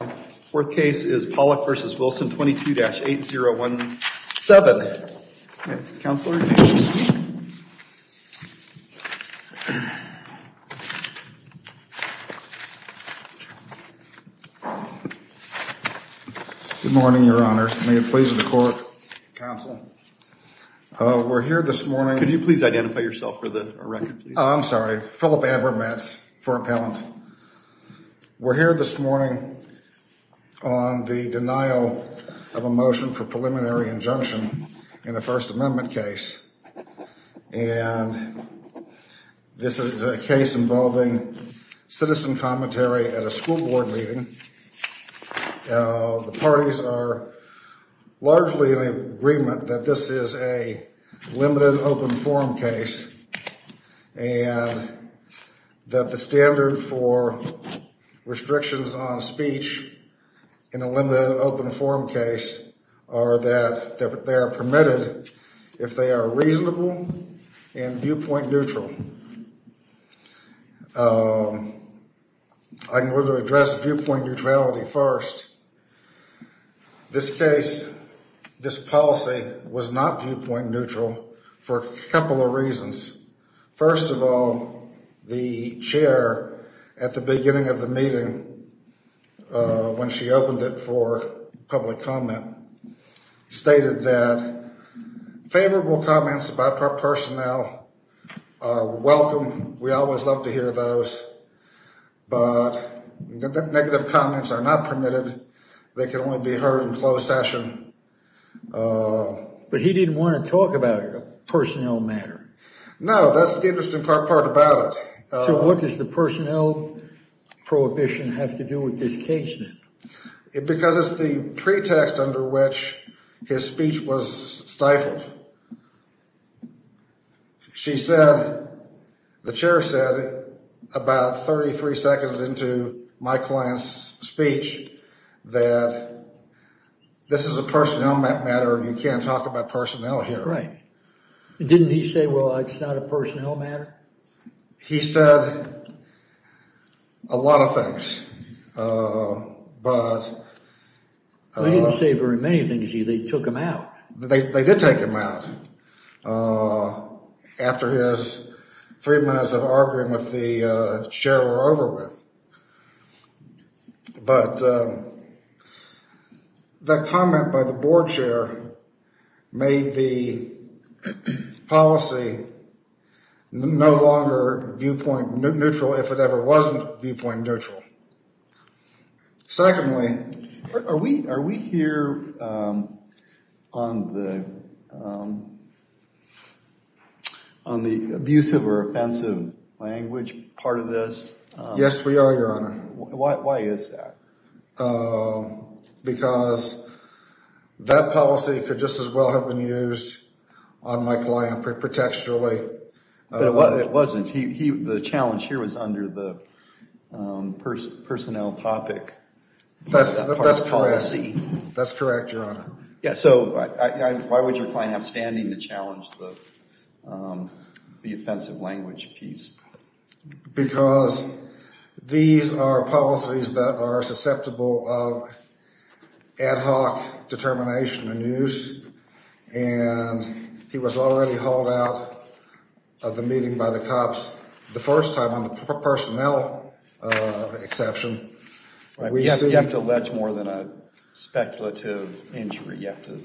4th case is Pawlak v. Wilson 22-8017 Good morning, your honor. May it please the court, counsel. We're here this morning. Can you please identify yourself for the record? I'm sorry. Philip Abermats, 4th appellant. We're here this morning on the denial of a motion for preliminary injunction in a First Amendment case. And this is a case involving citizen commentary at a school board meeting. The parties are largely in agreement that this is a limited open forum case and that the standard for restrictions on speech in a limited open forum case are that they are permitted if they are reasonable and viewpoint neutral. I can address for a couple of reasons. First of all, the chair at the beginning of the meeting when she opened it for public comment stated that favorable comments by personnel are welcome. We always love to hear those. But negative comments are not permitted. They can only be heard in closed session. But he didn't want to talk about personnel matter. No, that's the interesting part about it. So what does the personnel prohibition have to do with this case then? Because it's the pretext under which his speech was stifled. She said, the is a personnel matter. You can't talk about personnel here. Right. Didn't he say, well, it's not a personnel matter. He said a lot of things. But I didn't say very many things. He they took him out. They did take him out after his three minutes of arguing with the chair were over with. But that comment by the board chair made the policy no longer viewpoint neutral if it ever wasn't viewpoint neutral. Secondly, are we are we here on the on the abusive or offensive language part of this? Yes, we are, Your Honor. Why is that? Because that policy could just as well have been used on my client pretextually. It wasn't. The challenge here was under the personnel topic. That's correct. That's correct. Yeah. So why would your client have standing to challenge the offensive language piece? Because these are policies that are susceptible of ad hoc determination and use. And he was already hauled out of the meeting by the cops the first time on the personnel exception. We have to allege more than a speculative injury. You have to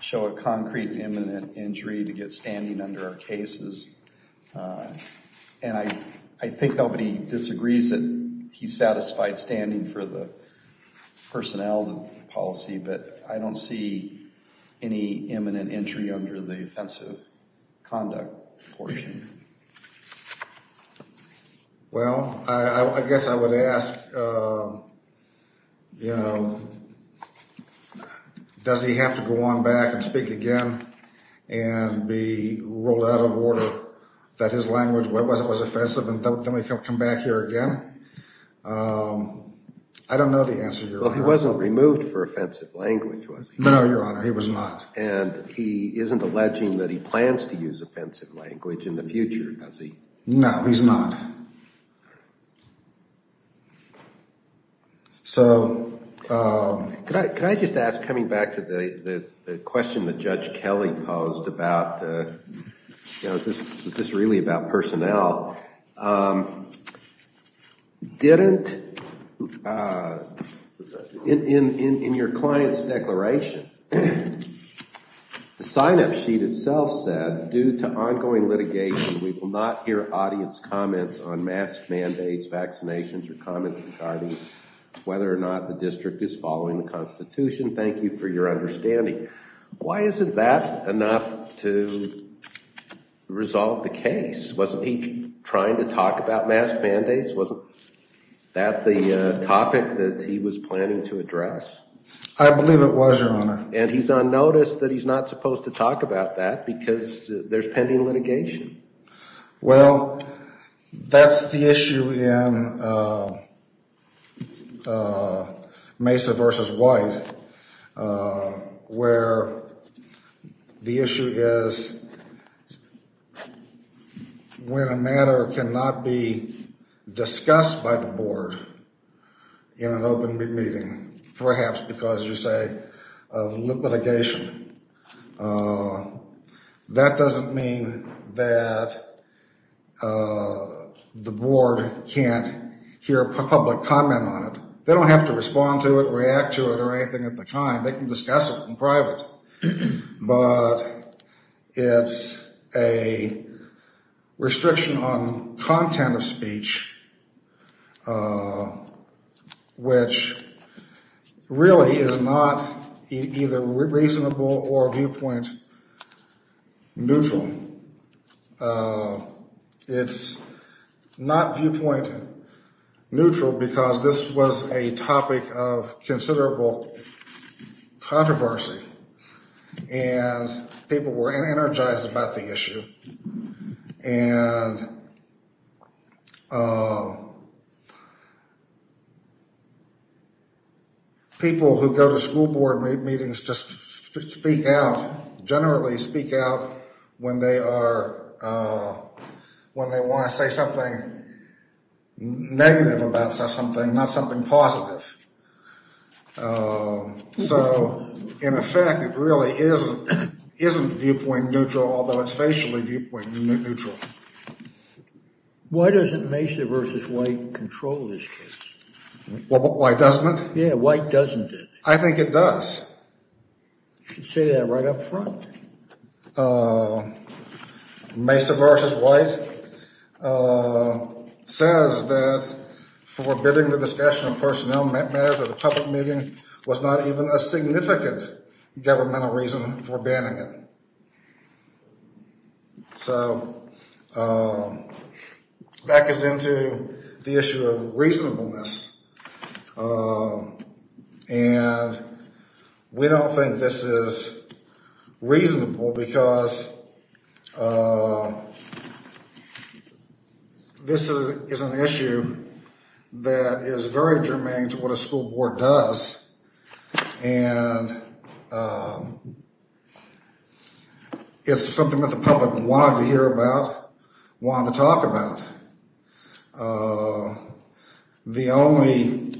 show a concrete imminent injury to get standing under our cases. And I I think nobody disagrees that he satisfied standing for the personnel policy. But I don't see any imminent injury under the offensive conduct portion. Well, I guess I would ask, you know, does he have to go on back and speak again and be rolled out of order that his language was offensive and then we can come back here again? I don't know the answer. Well, he wasn't removed for offensive language, was he? No, Your Honor, he was not. And he isn't alleging that he plans to use offensive language in the future, does he? No, he's not. So can I just ask, coming back to the question that Judge Kelly posed about, you know, is this the signup sheet itself said due to ongoing litigation, we will not hear audience comments on mask mandates, vaccinations or comments regarding whether or not the district is following the Constitution. Thank you for your understanding. Why isn't that enough to resolve the case? Wasn't he trying to talk about mask mandates? Wasn't that the topic that he was not supposed to talk about that because there's pending litigation? Well, that's the issue in Mesa v. White, where the issue is when a matter cannot be discussed by the board in an open meeting, perhaps because you say of litigation. That doesn't mean that the board can't hear a public comment on it. They don't have to respond to it, react to it, or anything of the kind. They can discuss it in private. But it's a restriction on content of which really is not either reasonable or viewpoint neutral. It's not viewpoint neutral because this was a topic of considerable controversy and people were energized about the fact that people who go to school board meetings just speak out, generally speak out when they are, when they want to say something negative about something, not something positive. So, in effect, it really isn't viewpoint neutral, although it's facially viewpoint neutral. So, why doesn't Mesa v. White control this case? Well, why doesn't it? Yeah, why doesn't it? I think it does. You can say that right up front. Mesa v. White says that forbidding the discussion of personnel matters at a public meeting was not even a significant governmental reason for banning it. So, that gets into the issue of reasonableness. And we don't think this is reasonable because this is an issue that is very germane to what a school board does. And it's something that the public wanted to hear about, wanted to talk about. The only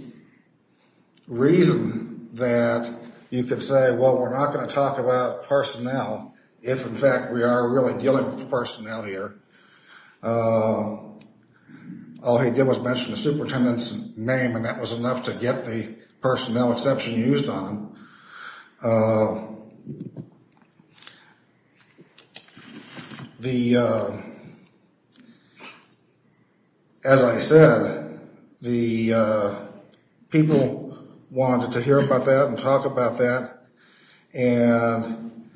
reason that you could say, well, we're not going to talk about personnel if, in fact, we are really dealing with the personnel here. All he did was mention the superintendent's name and that was enough to get the personnel exception used on him. The, as I said, the people wanted to hear about that and talk about that. And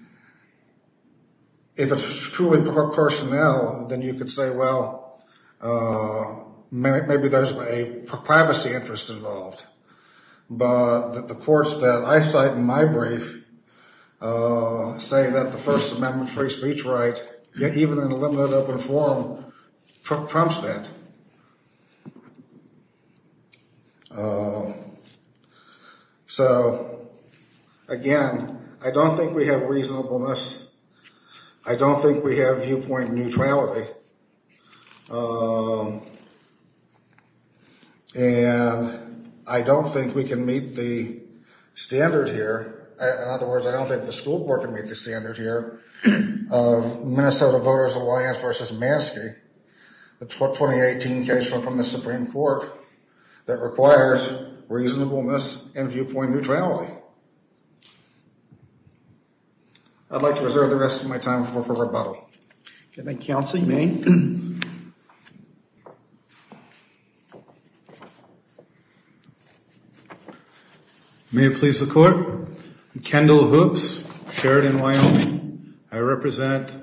if it's truly personnel, then you could say, well, maybe there's a privacy interest involved. But the courts that I cite in my brief say that the First Amendment free speech right, even in a limited open forum, trumps that. So, again, I don't think we have reasonableness. I don't think we have viewpoint neutrality. And I don't think we can meet the standard here. In other words, I don't think the school board can meet the standard here of Minnesota Voters Alliance v. Maskey, the 2018 case from the Supreme Court that requires reasonableness and viewpoint neutrality. I'd like to reserve the rest of my time for rebuttal. Good night, counsel. You may. May it please the court. Kendall Hoops, Sheridan, Wyoming. I represent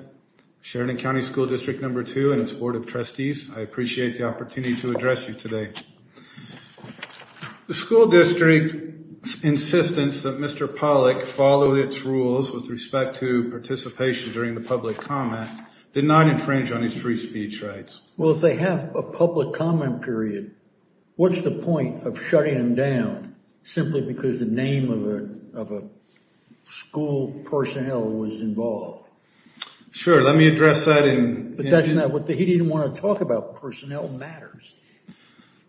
Sheridan County School District No. 2 and its Board of Trustees. I appreciate the opportunity to address you today. The school district's insistence that Mr. Pollack follow its rules with respect to public comment did not infringe on his free speech rights. Well, if they have a public comment period, what's the point of shutting him down simply because the name of a school personnel was involved? Sure. Let me address that in... But that's not what... He didn't want to talk about personnel matters.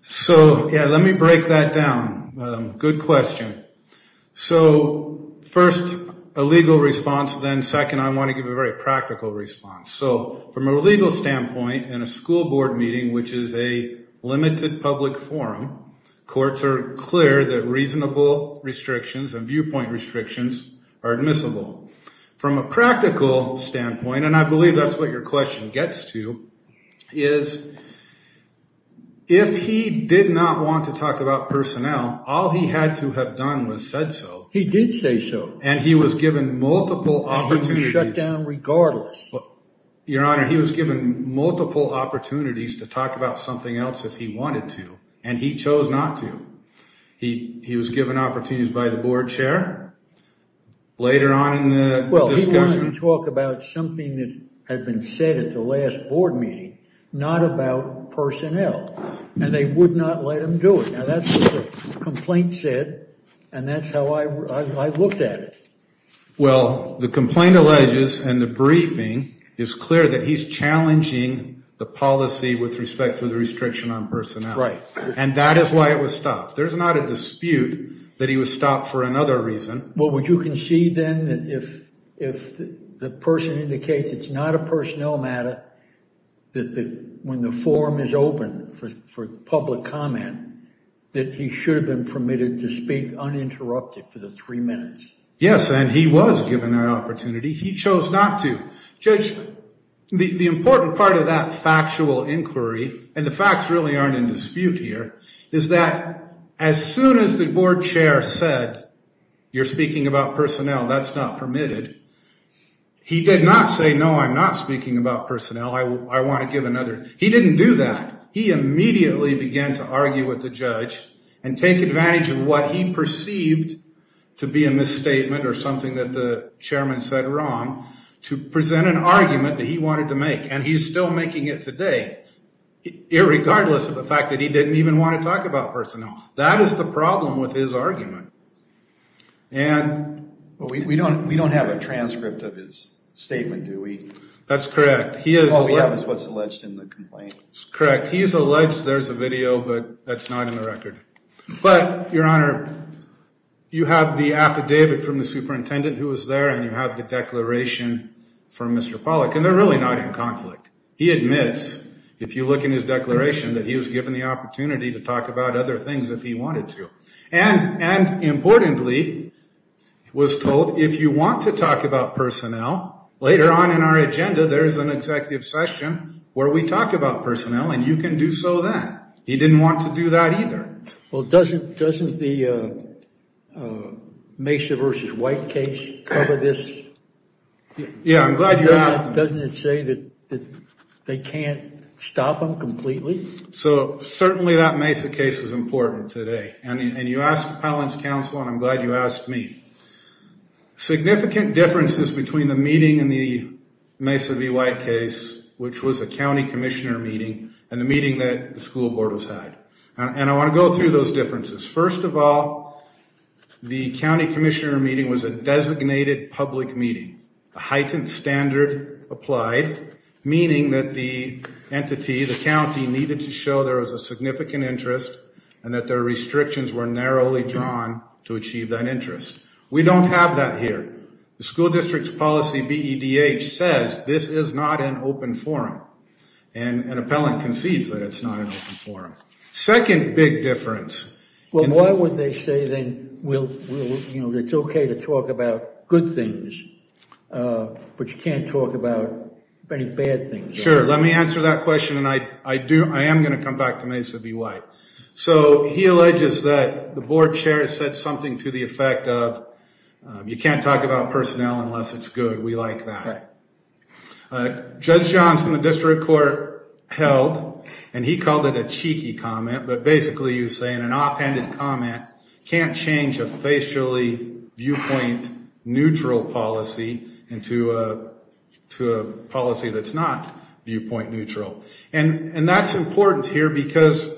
So, yeah, let me break that down. Good question. So, first, a legal response. Then, second, I want to give a very practical response. So, from a legal standpoint, in a school board meeting, which is a limited public forum, courts are clear that reasonable restrictions and viewpoint restrictions are admissible. From a practical standpoint, and I believe that's what your question gets to, is if he did not want to talk about personnel, all he had to have done was said so. He did say so. And he was given multiple opportunities... And he was shut down regardless. Your Honor, he was given multiple opportunities to talk about something else if he wanted to, and he chose not to. He was given opportunities by the board chair. Later on in the discussion... Well, he wanted to talk about something that had been said at the last board meeting, not about personnel, and they would not let him do it. That's what the complaint said, and that's how I looked at it. Well, the complaint alleges, and the briefing is clear, that he's challenging the policy with respect to the restriction on personnel. Right. And that is why it was stopped. There's not a dispute that he was stopped for another reason. Well, would you concede, then, that if the person indicates it's not a personnel matter, that when the forum is open for public comment, that he should have been permitted to speak uninterrupted for the three minutes? Yes, and he was given that opportunity. He chose not to. Judge, the important part of that factual inquiry, and the facts really aren't in dispute here, is that as soon as the board chair said, you're speaking about personnel, that's not permitted. He did not say, no, I'm not speaking about personnel. I want to give another. He didn't do that. He immediately began to argue with the judge, and take advantage of what he perceived to be a misstatement, or something that the chairman said wrong, to present an argument that he wanted to make. And he's still making it today, regardless of the fact that he didn't even want to talk about personnel. That is the problem with his argument. But we don't have a transcript of his statement, do we? That's correct. All we have is what's alleged in the complaint. That's correct. He is alleged, there's a video, but that's not in the record. But, your honor, you have the affidavit from the superintendent who was there, and you have the declaration from Mr. Pollack, and they're really not in conflict. He admits, if you look in his declaration, that he was given the opportunity to talk about other things if he wanted to. And, importantly, he was told, if you want to talk about personnel, later on in our agenda, there is an executive session where we talk about personnel, and you can do so then. He didn't want to do that either. Well, doesn't the Mesa v. White case cover this? Yeah, I'm glad you asked. Doesn't it say that they can't stop them completely? So, certainly that Mesa case is important today. And you asked the appellant's counsel, and I'm glad you asked me. Significant differences between the meeting and the Mesa v. White case, which was a county commissioner meeting, and the meeting that the school board has had. And I want to go through those differences. First of all, the county commissioner meeting was a designated public meeting. A heightened standard applied, meaning that the entity, the county, needed to show there was a significant interest and that their restrictions were narrowly drawn to achieve that interest. We don't have that here. The school district's policy, BEDH, says this is not an open forum. And an appellant concedes that it's not an open forum. Second big difference. Well, why would they say then, it's okay to talk about good things, but you can't talk about any bad things? Sure, let me answer that question, and I am going to come back to Mesa v. White. So he alleges that the board chair said something to the effect of, you can't talk about personnel unless it's good. We like that. Judge Johnson, the district court held, and he called it a cheeky comment, but basically he was saying an offhanded comment can't change a facially viewpoint neutral policy into a policy that's not viewpoint neutral. And that's important here because,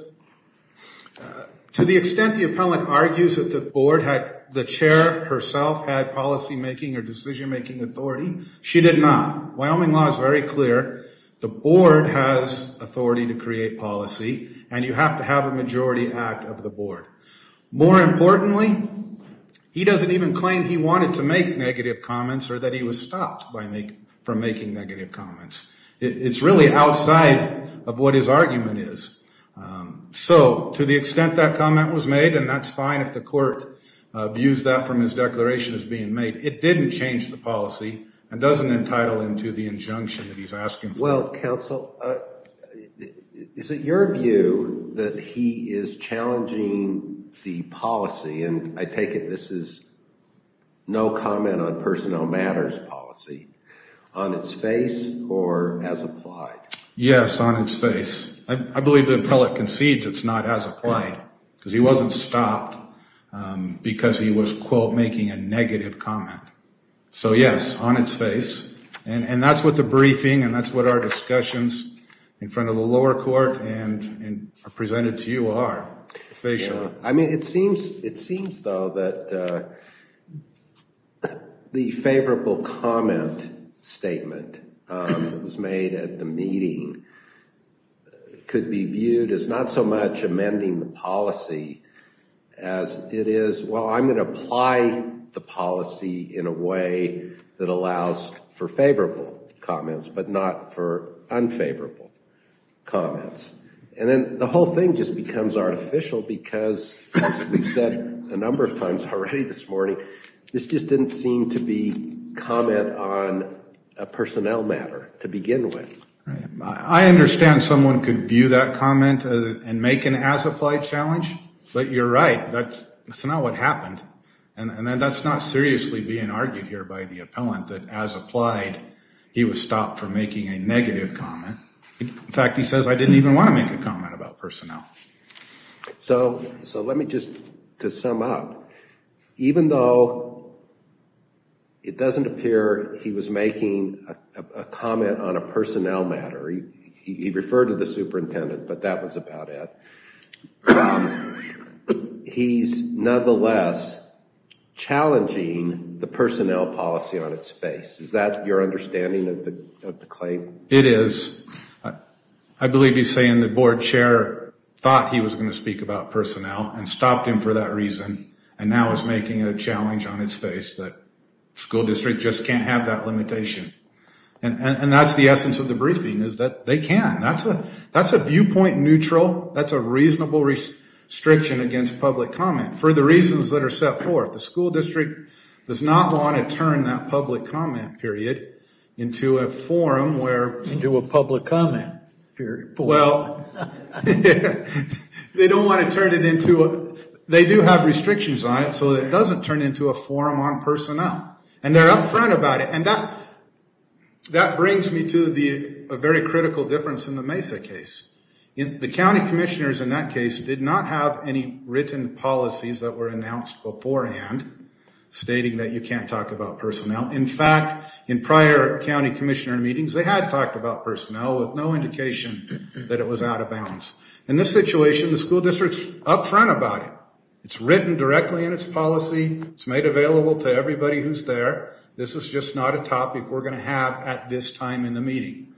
to the extent the appellant argues that the board had, the chair herself, had policymaking or decision-making authority, she did not. Wyoming law is very clear. The board has authority to create policy, and you have to have a majority act of the board. More importantly, he doesn't even claim he wanted to make negative comments or that he was stopped from making negative comments. It's really outside of what his argument is. So to the extent that comment was made, and that's fine if the court views that from his declaration as being made, it didn't change the policy and doesn't entitle him to the injunction that he's asking for. Well, counsel, is it your view that he is challenging the policy, and I take it this is no comment on personnel matters policy, on its face or as applied? Yes, on its face. I believe the appellant concedes it's not as applied because he wasn't stopped because he was, quote, making a negative comment. So yes, on its face. And that's what the briefing and that's what our discussions in front of the lower court and presented to you are, facially. I mean, it seems though that the favorable comment statement that was made at the meeting could be viewed as not so much amending the policy as it is, well, I'm gonna apply the policy in a way that allows for favorable comments, but not for unfavorable comments. And then the whole thing just becomes artificial because, as we've said a number of times, already this morning, this just didn't seem to be comment on a personnel matter to begin with. I understand someone could view that comment and make an as applied challenge, but you're right, that's not what happened. And that's not seriously being argued here by the appellant that as applied, he was stopped from making a negative comment. In fact, he says, I didn't even wanna make a comment about personnel. So let me just, to sum up, even though it doesn't appear he was making a comment on a personnel matter, he referred to the superintendent, but that was about it. He's nonetheless challenging the personnel policy on its face. Is that your understanding of the claim? It is. I believe he's saying the board chair thought he was gonna speak about personnel and stopped him for that reason and now is making a challenge on its face that school district just can't have that limitation. And that's the essence of the briefing is that they can. That's a viewpoint neutral, that's a reasonable restriction against public comment for the reasons that are set forth. The school district does not wanna turn that public comment period into a forum where- Into a public comment period. Well, they don't wanna turn it into, they do have restrictions on it so that it doesn't turn into a forum on personnel. And they're upfront about it. And that brings me to a very critical difference in the Mesa case. The county commissioners in that case did not have any written policies that were announced beforehand stating that you can't talk about personnel. In fact, in prior county commissioner meetings, they had talked about personnel with no indication that it was out of bounds. In this situation, the school district's upfront about it. It's written directly in its policy. It's made available to everybody who's there. This is just not a topic we're gonna have at this time in the meeting.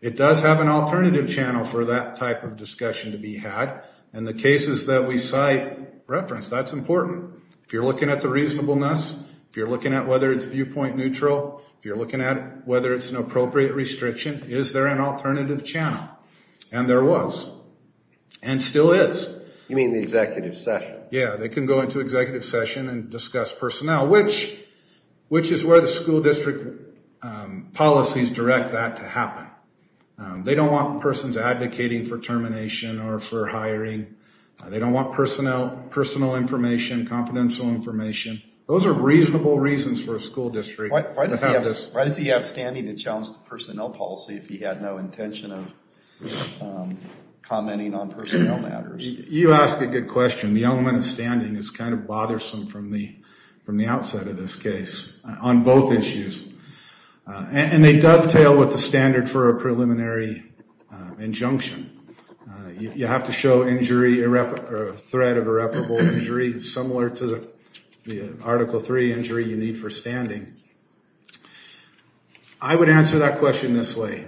It does have an alternative channel for that type of discussion to be had. And the cases that we cite reference, that's important. If you're looking at the reasonableness, if you're looking at whether it's viewpoint neutral, if you're looking at whether it's an appropriate restriction, is there an alternative channel? And there was. And still is. You mean the executive session? Yeah, they can go into executive session and discuss personnel, which is where the school district policies direct that to happen. They don't want persons advocating for termination or for hiring. They don't want personnel, personal information, confidential information. Those are reasonable reasons for a school district. Why does he have standing to challenge the personnel policy if he had no intention of commenting on personnel matters? You ask a good question. The element of standing is kind of bothersome from the outset of this case on both issues. And they dovetail with the standard for a preliminary injunction. You have to show injury, threat of irreparable injury similar to the Article III injury you need for standing. I would answer that question this way.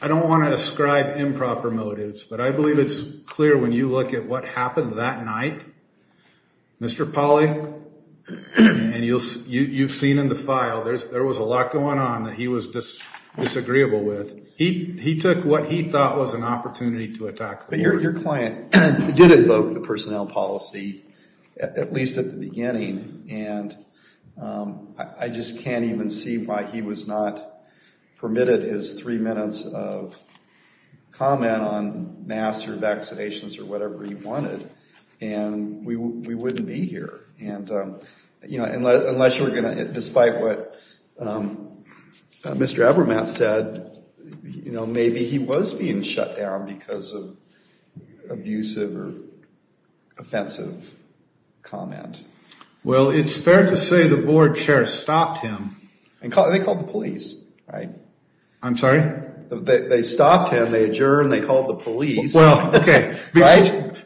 I don't want to ascribe improper motives, but I believe it's clear when you look at what happened that night, Mr. Pauly, and you've seen in the file, there was a lot going on that he was disagreeable with. He took what he thought was an opportunity to attack. But your client did evoke the personnel policy at least at the beginning. And I just can't even see why he was not permitted his three minutes of comment on masks or vaccinations or whatever he wanted. And we wouldn't be here. And, you know, unless you were going to, despite what Mr. Abermatt said, you know, maybe he was being shut down because of abusive or offensive comment. Well, it's fair to say the board chair stopped him. And they called the police, right? I'm sorry? They stopped him. They adjourned. They called the police. Well, okay.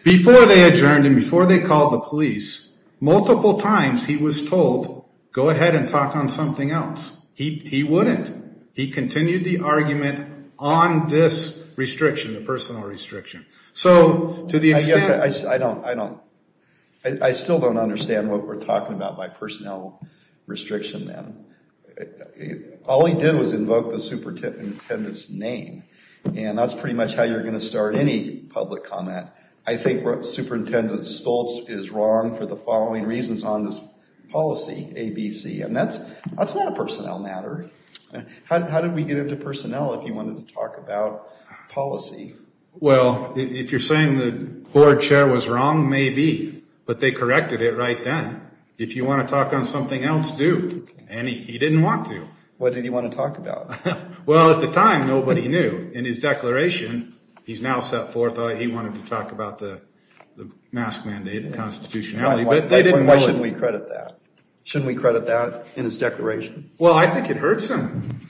Before they adjourned and before they called the police, multiple times he was told, go ahead and talk on something else. He wouldn't. He continued the argument on this restriction, the personnel restriction. So to the extent... I don't, I still don't understand what we're talking about by personnel restriction, man. All he did was invoke the superintendent's name. And that's pretty much how you're going to start any public comment. I think Superintendent Stoltz is wrong for the following reasons on this policy, ABC. And that's not a personnel matter. How did we get into personnel if you wanted to talk about policy? Well, if you're saying the board chair was wrong, maybe. But they corrected it right then. If you want to talk on something else, do. And he didn't want to. What did he want to talk about? Well, at the time, nobody knew. In his declaration, he's now set forth, he wanted to talk about the mask mandate, the constitutionality, but they didn't know it. Why shouldn't we credit that? Shouldn't we credit that in his declaration? Well, I think it hurts him.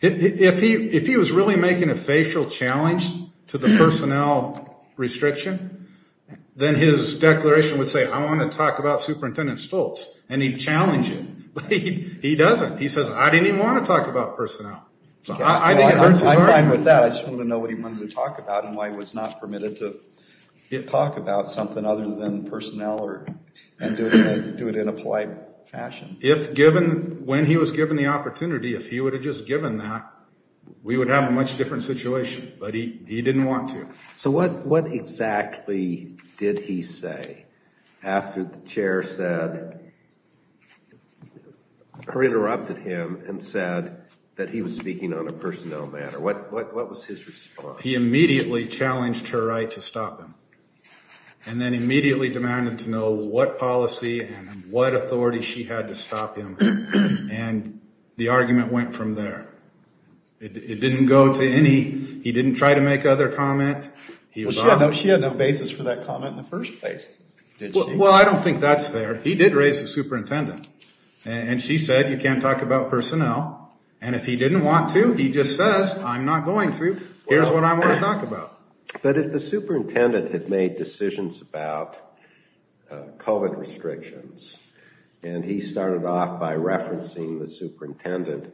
If he was really making a facial challenge to the personnel restriction, then his declaration would say, I want to talk about Superintendent Stoltz. And he'd challenge it, but he doesn't. He says, I didn't even want to talk about personnel. So I think it hurts his argument. I'm fine with that. I just want to know what he wanted to talk about and why he was not permitted to talk about something other than personnel and do it in a polite fashion. When he was given the opportunity, if he would have just given that, we would have a much different situation. But he didn't want to. So what exactly did he say after the chair said, or interrupted him and said that he was speaking on a personnel matter? What was his response? He immediately challenged her right to stop him and then immediately demanded to know what policy and what authority she had to stop him. And the argument went from there. It didn't go to any, he didn't try to make other comment. She had no basis for that comment in the first place. Well, I don't think that's there. He did raise the superintendent and she said, you can't talk about personnel. And if he didn't want to, he just says, I'm not going to. Here's what I want to talk about. But if the superintendent had made decisions about COVID restrictions and he started off by referencing the superintendent,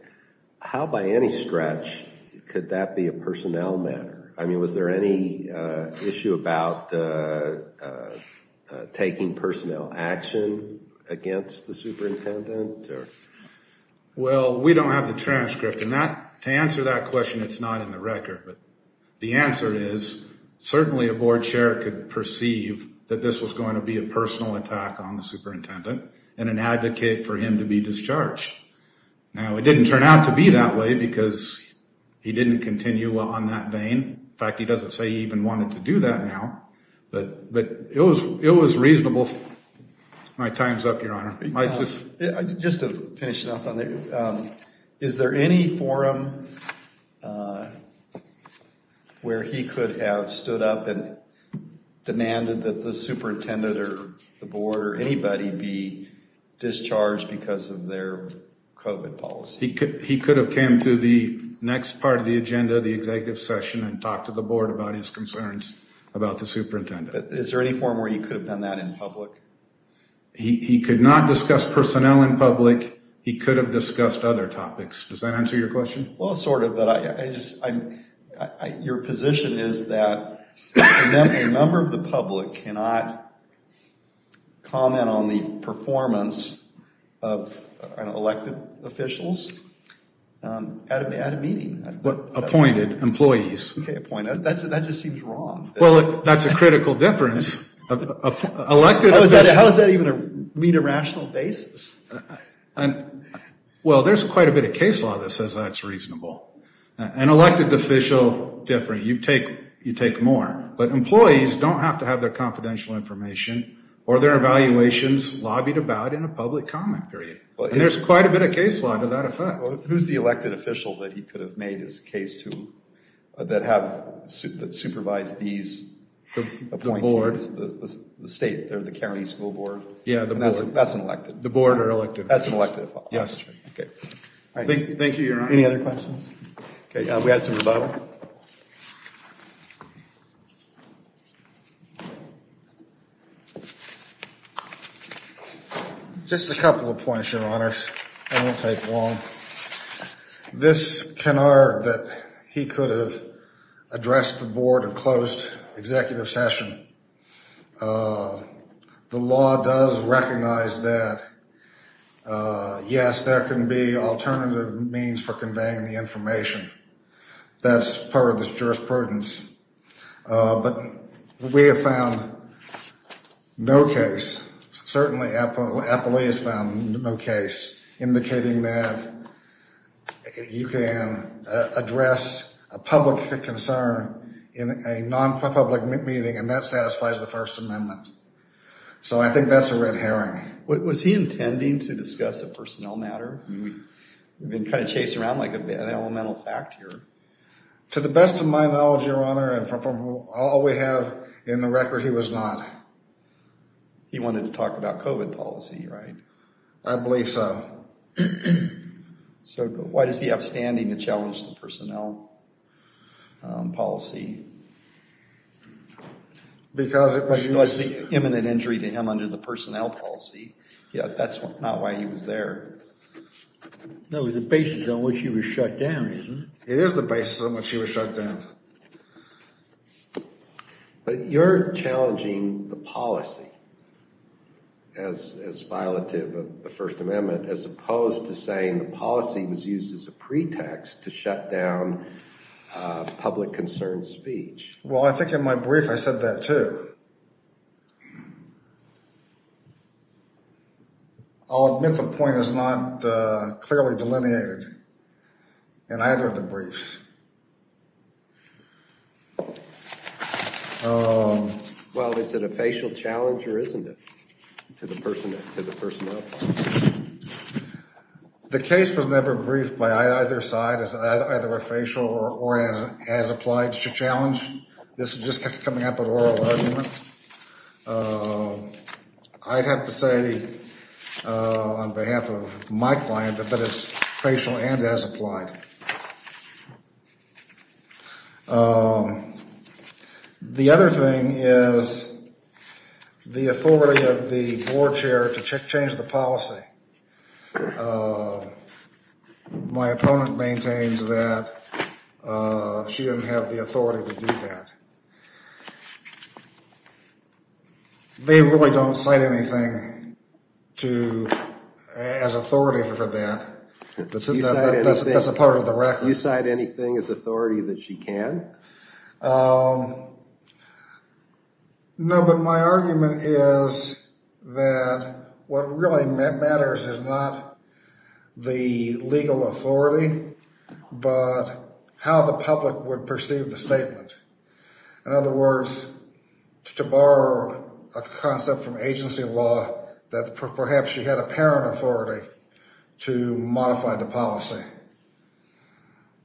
how by any stretch could that be a personnel matter? I mean, was there any issue about taking personnel action against the superintendent? Well, we don't have the transcript. And to answer that question, it's not in the record. But the answer is, certainly a board chair could perceive that this was going to be a personal attack on the superintendent and an advocate for him to be discharged. Now, it didn't turn out to be that way because he didn't continue on that vein. In fact, he doesn't say he even wanted to do that now. But it was reasonable. My time's up, Your Honor. Just to finish it up on there. Is there any forum where he could have stood up and demanded that the superintendent or the board or anybody be discharged because of their COVID policy? He could have came to the next part of the agenda, the executive session, and talked to the board about his concerns about the superintendent. Is there any forum where he could have done that in public? He could not discuss personnel in public. He could have discussed other topics. Does that answer your question? Well, sort of. But your position is that a member of the public cannot comment on the performance of elected officials at a meeting. Appointed employees. Okay, appointed. That just seems wrong. Well, that's a critical difference. Elected officials. How does that even meet a rational basis? Well, there's quite a bit of case law that says that's reasonable. An elected official, different. You take more. But employees don't have to have their confidential information or their evaluations lobbied about in a public comment period. There's quite a bit of case law to that effect. Who's the elected official that he could have made his case to that supervised these appointees? The board. It's the state. They're the county school board. Yeah, the board. That's an elected. The board are elected. That's an elected. Yes. Thank you, Your Honor. Any other questions? Okay, we had some at the bottom. Just a couple of points, Your Honors. I won't take long. This canard that he could have addressed the board and closed executive session. The law does recognize that. Yes, there can be alternative means for conveying the information. That's part of this jurisprudence. But we have found no case. Certainly, Apple Apple has found no case indicating that you can address a public concern in a non-public meeting, and that satisfies the First Amendment. So I think that's a red herring. Was he intending to discuss the personnel matter? We've been kind of chasing around like an elemental fact here. To the best of my knowledge, Your Honor, and from all we have in the record, he was not. He wanted to talk about COVID policy, right? I believe so. So why does he have standing to challenge the personnel policy? Because it was the imminent injury to him under the personnel policy. Yeah, that's not why he was there. That was the basis on which he was shut down, isn't it? It is the basis on which he was shut down. But you're challenging the policy as violative of the First Amendment as opposed to saying the policy was used as a pretext to shut down public concern speech. Well, I think in my brief, I said that too. I'll admit the point is not clearly delineated in either of the briefs. Well, is it a facial challenge or isn't it to the personnel to the personnel? The case was never briefed by either side as either a facial or as applied to challenge. This is just coming up an oral argument. I'd have to say on behalf of my client that that is facial and as applied. The other thing is the authority of the board chair to change the policy. My opponent maintains that she didn't have the authority to do that. They really don't cite anything as authority for that. That's a part of the record. You cite anything as authority that she can? No, but my argument is that what really matters is not the legal authority, but how the public would perceive the statement. In other words, to borrow a concept from agency law that perhaps she had apparent authority to modify the policy.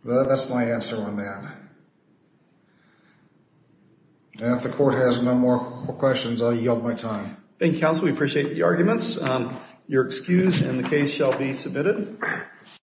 That's my answer on that. And if the court has no more questions, I'll yield my time. Thank you, counsel. We appreciate the arguments. You're excused and the case shall be submitted.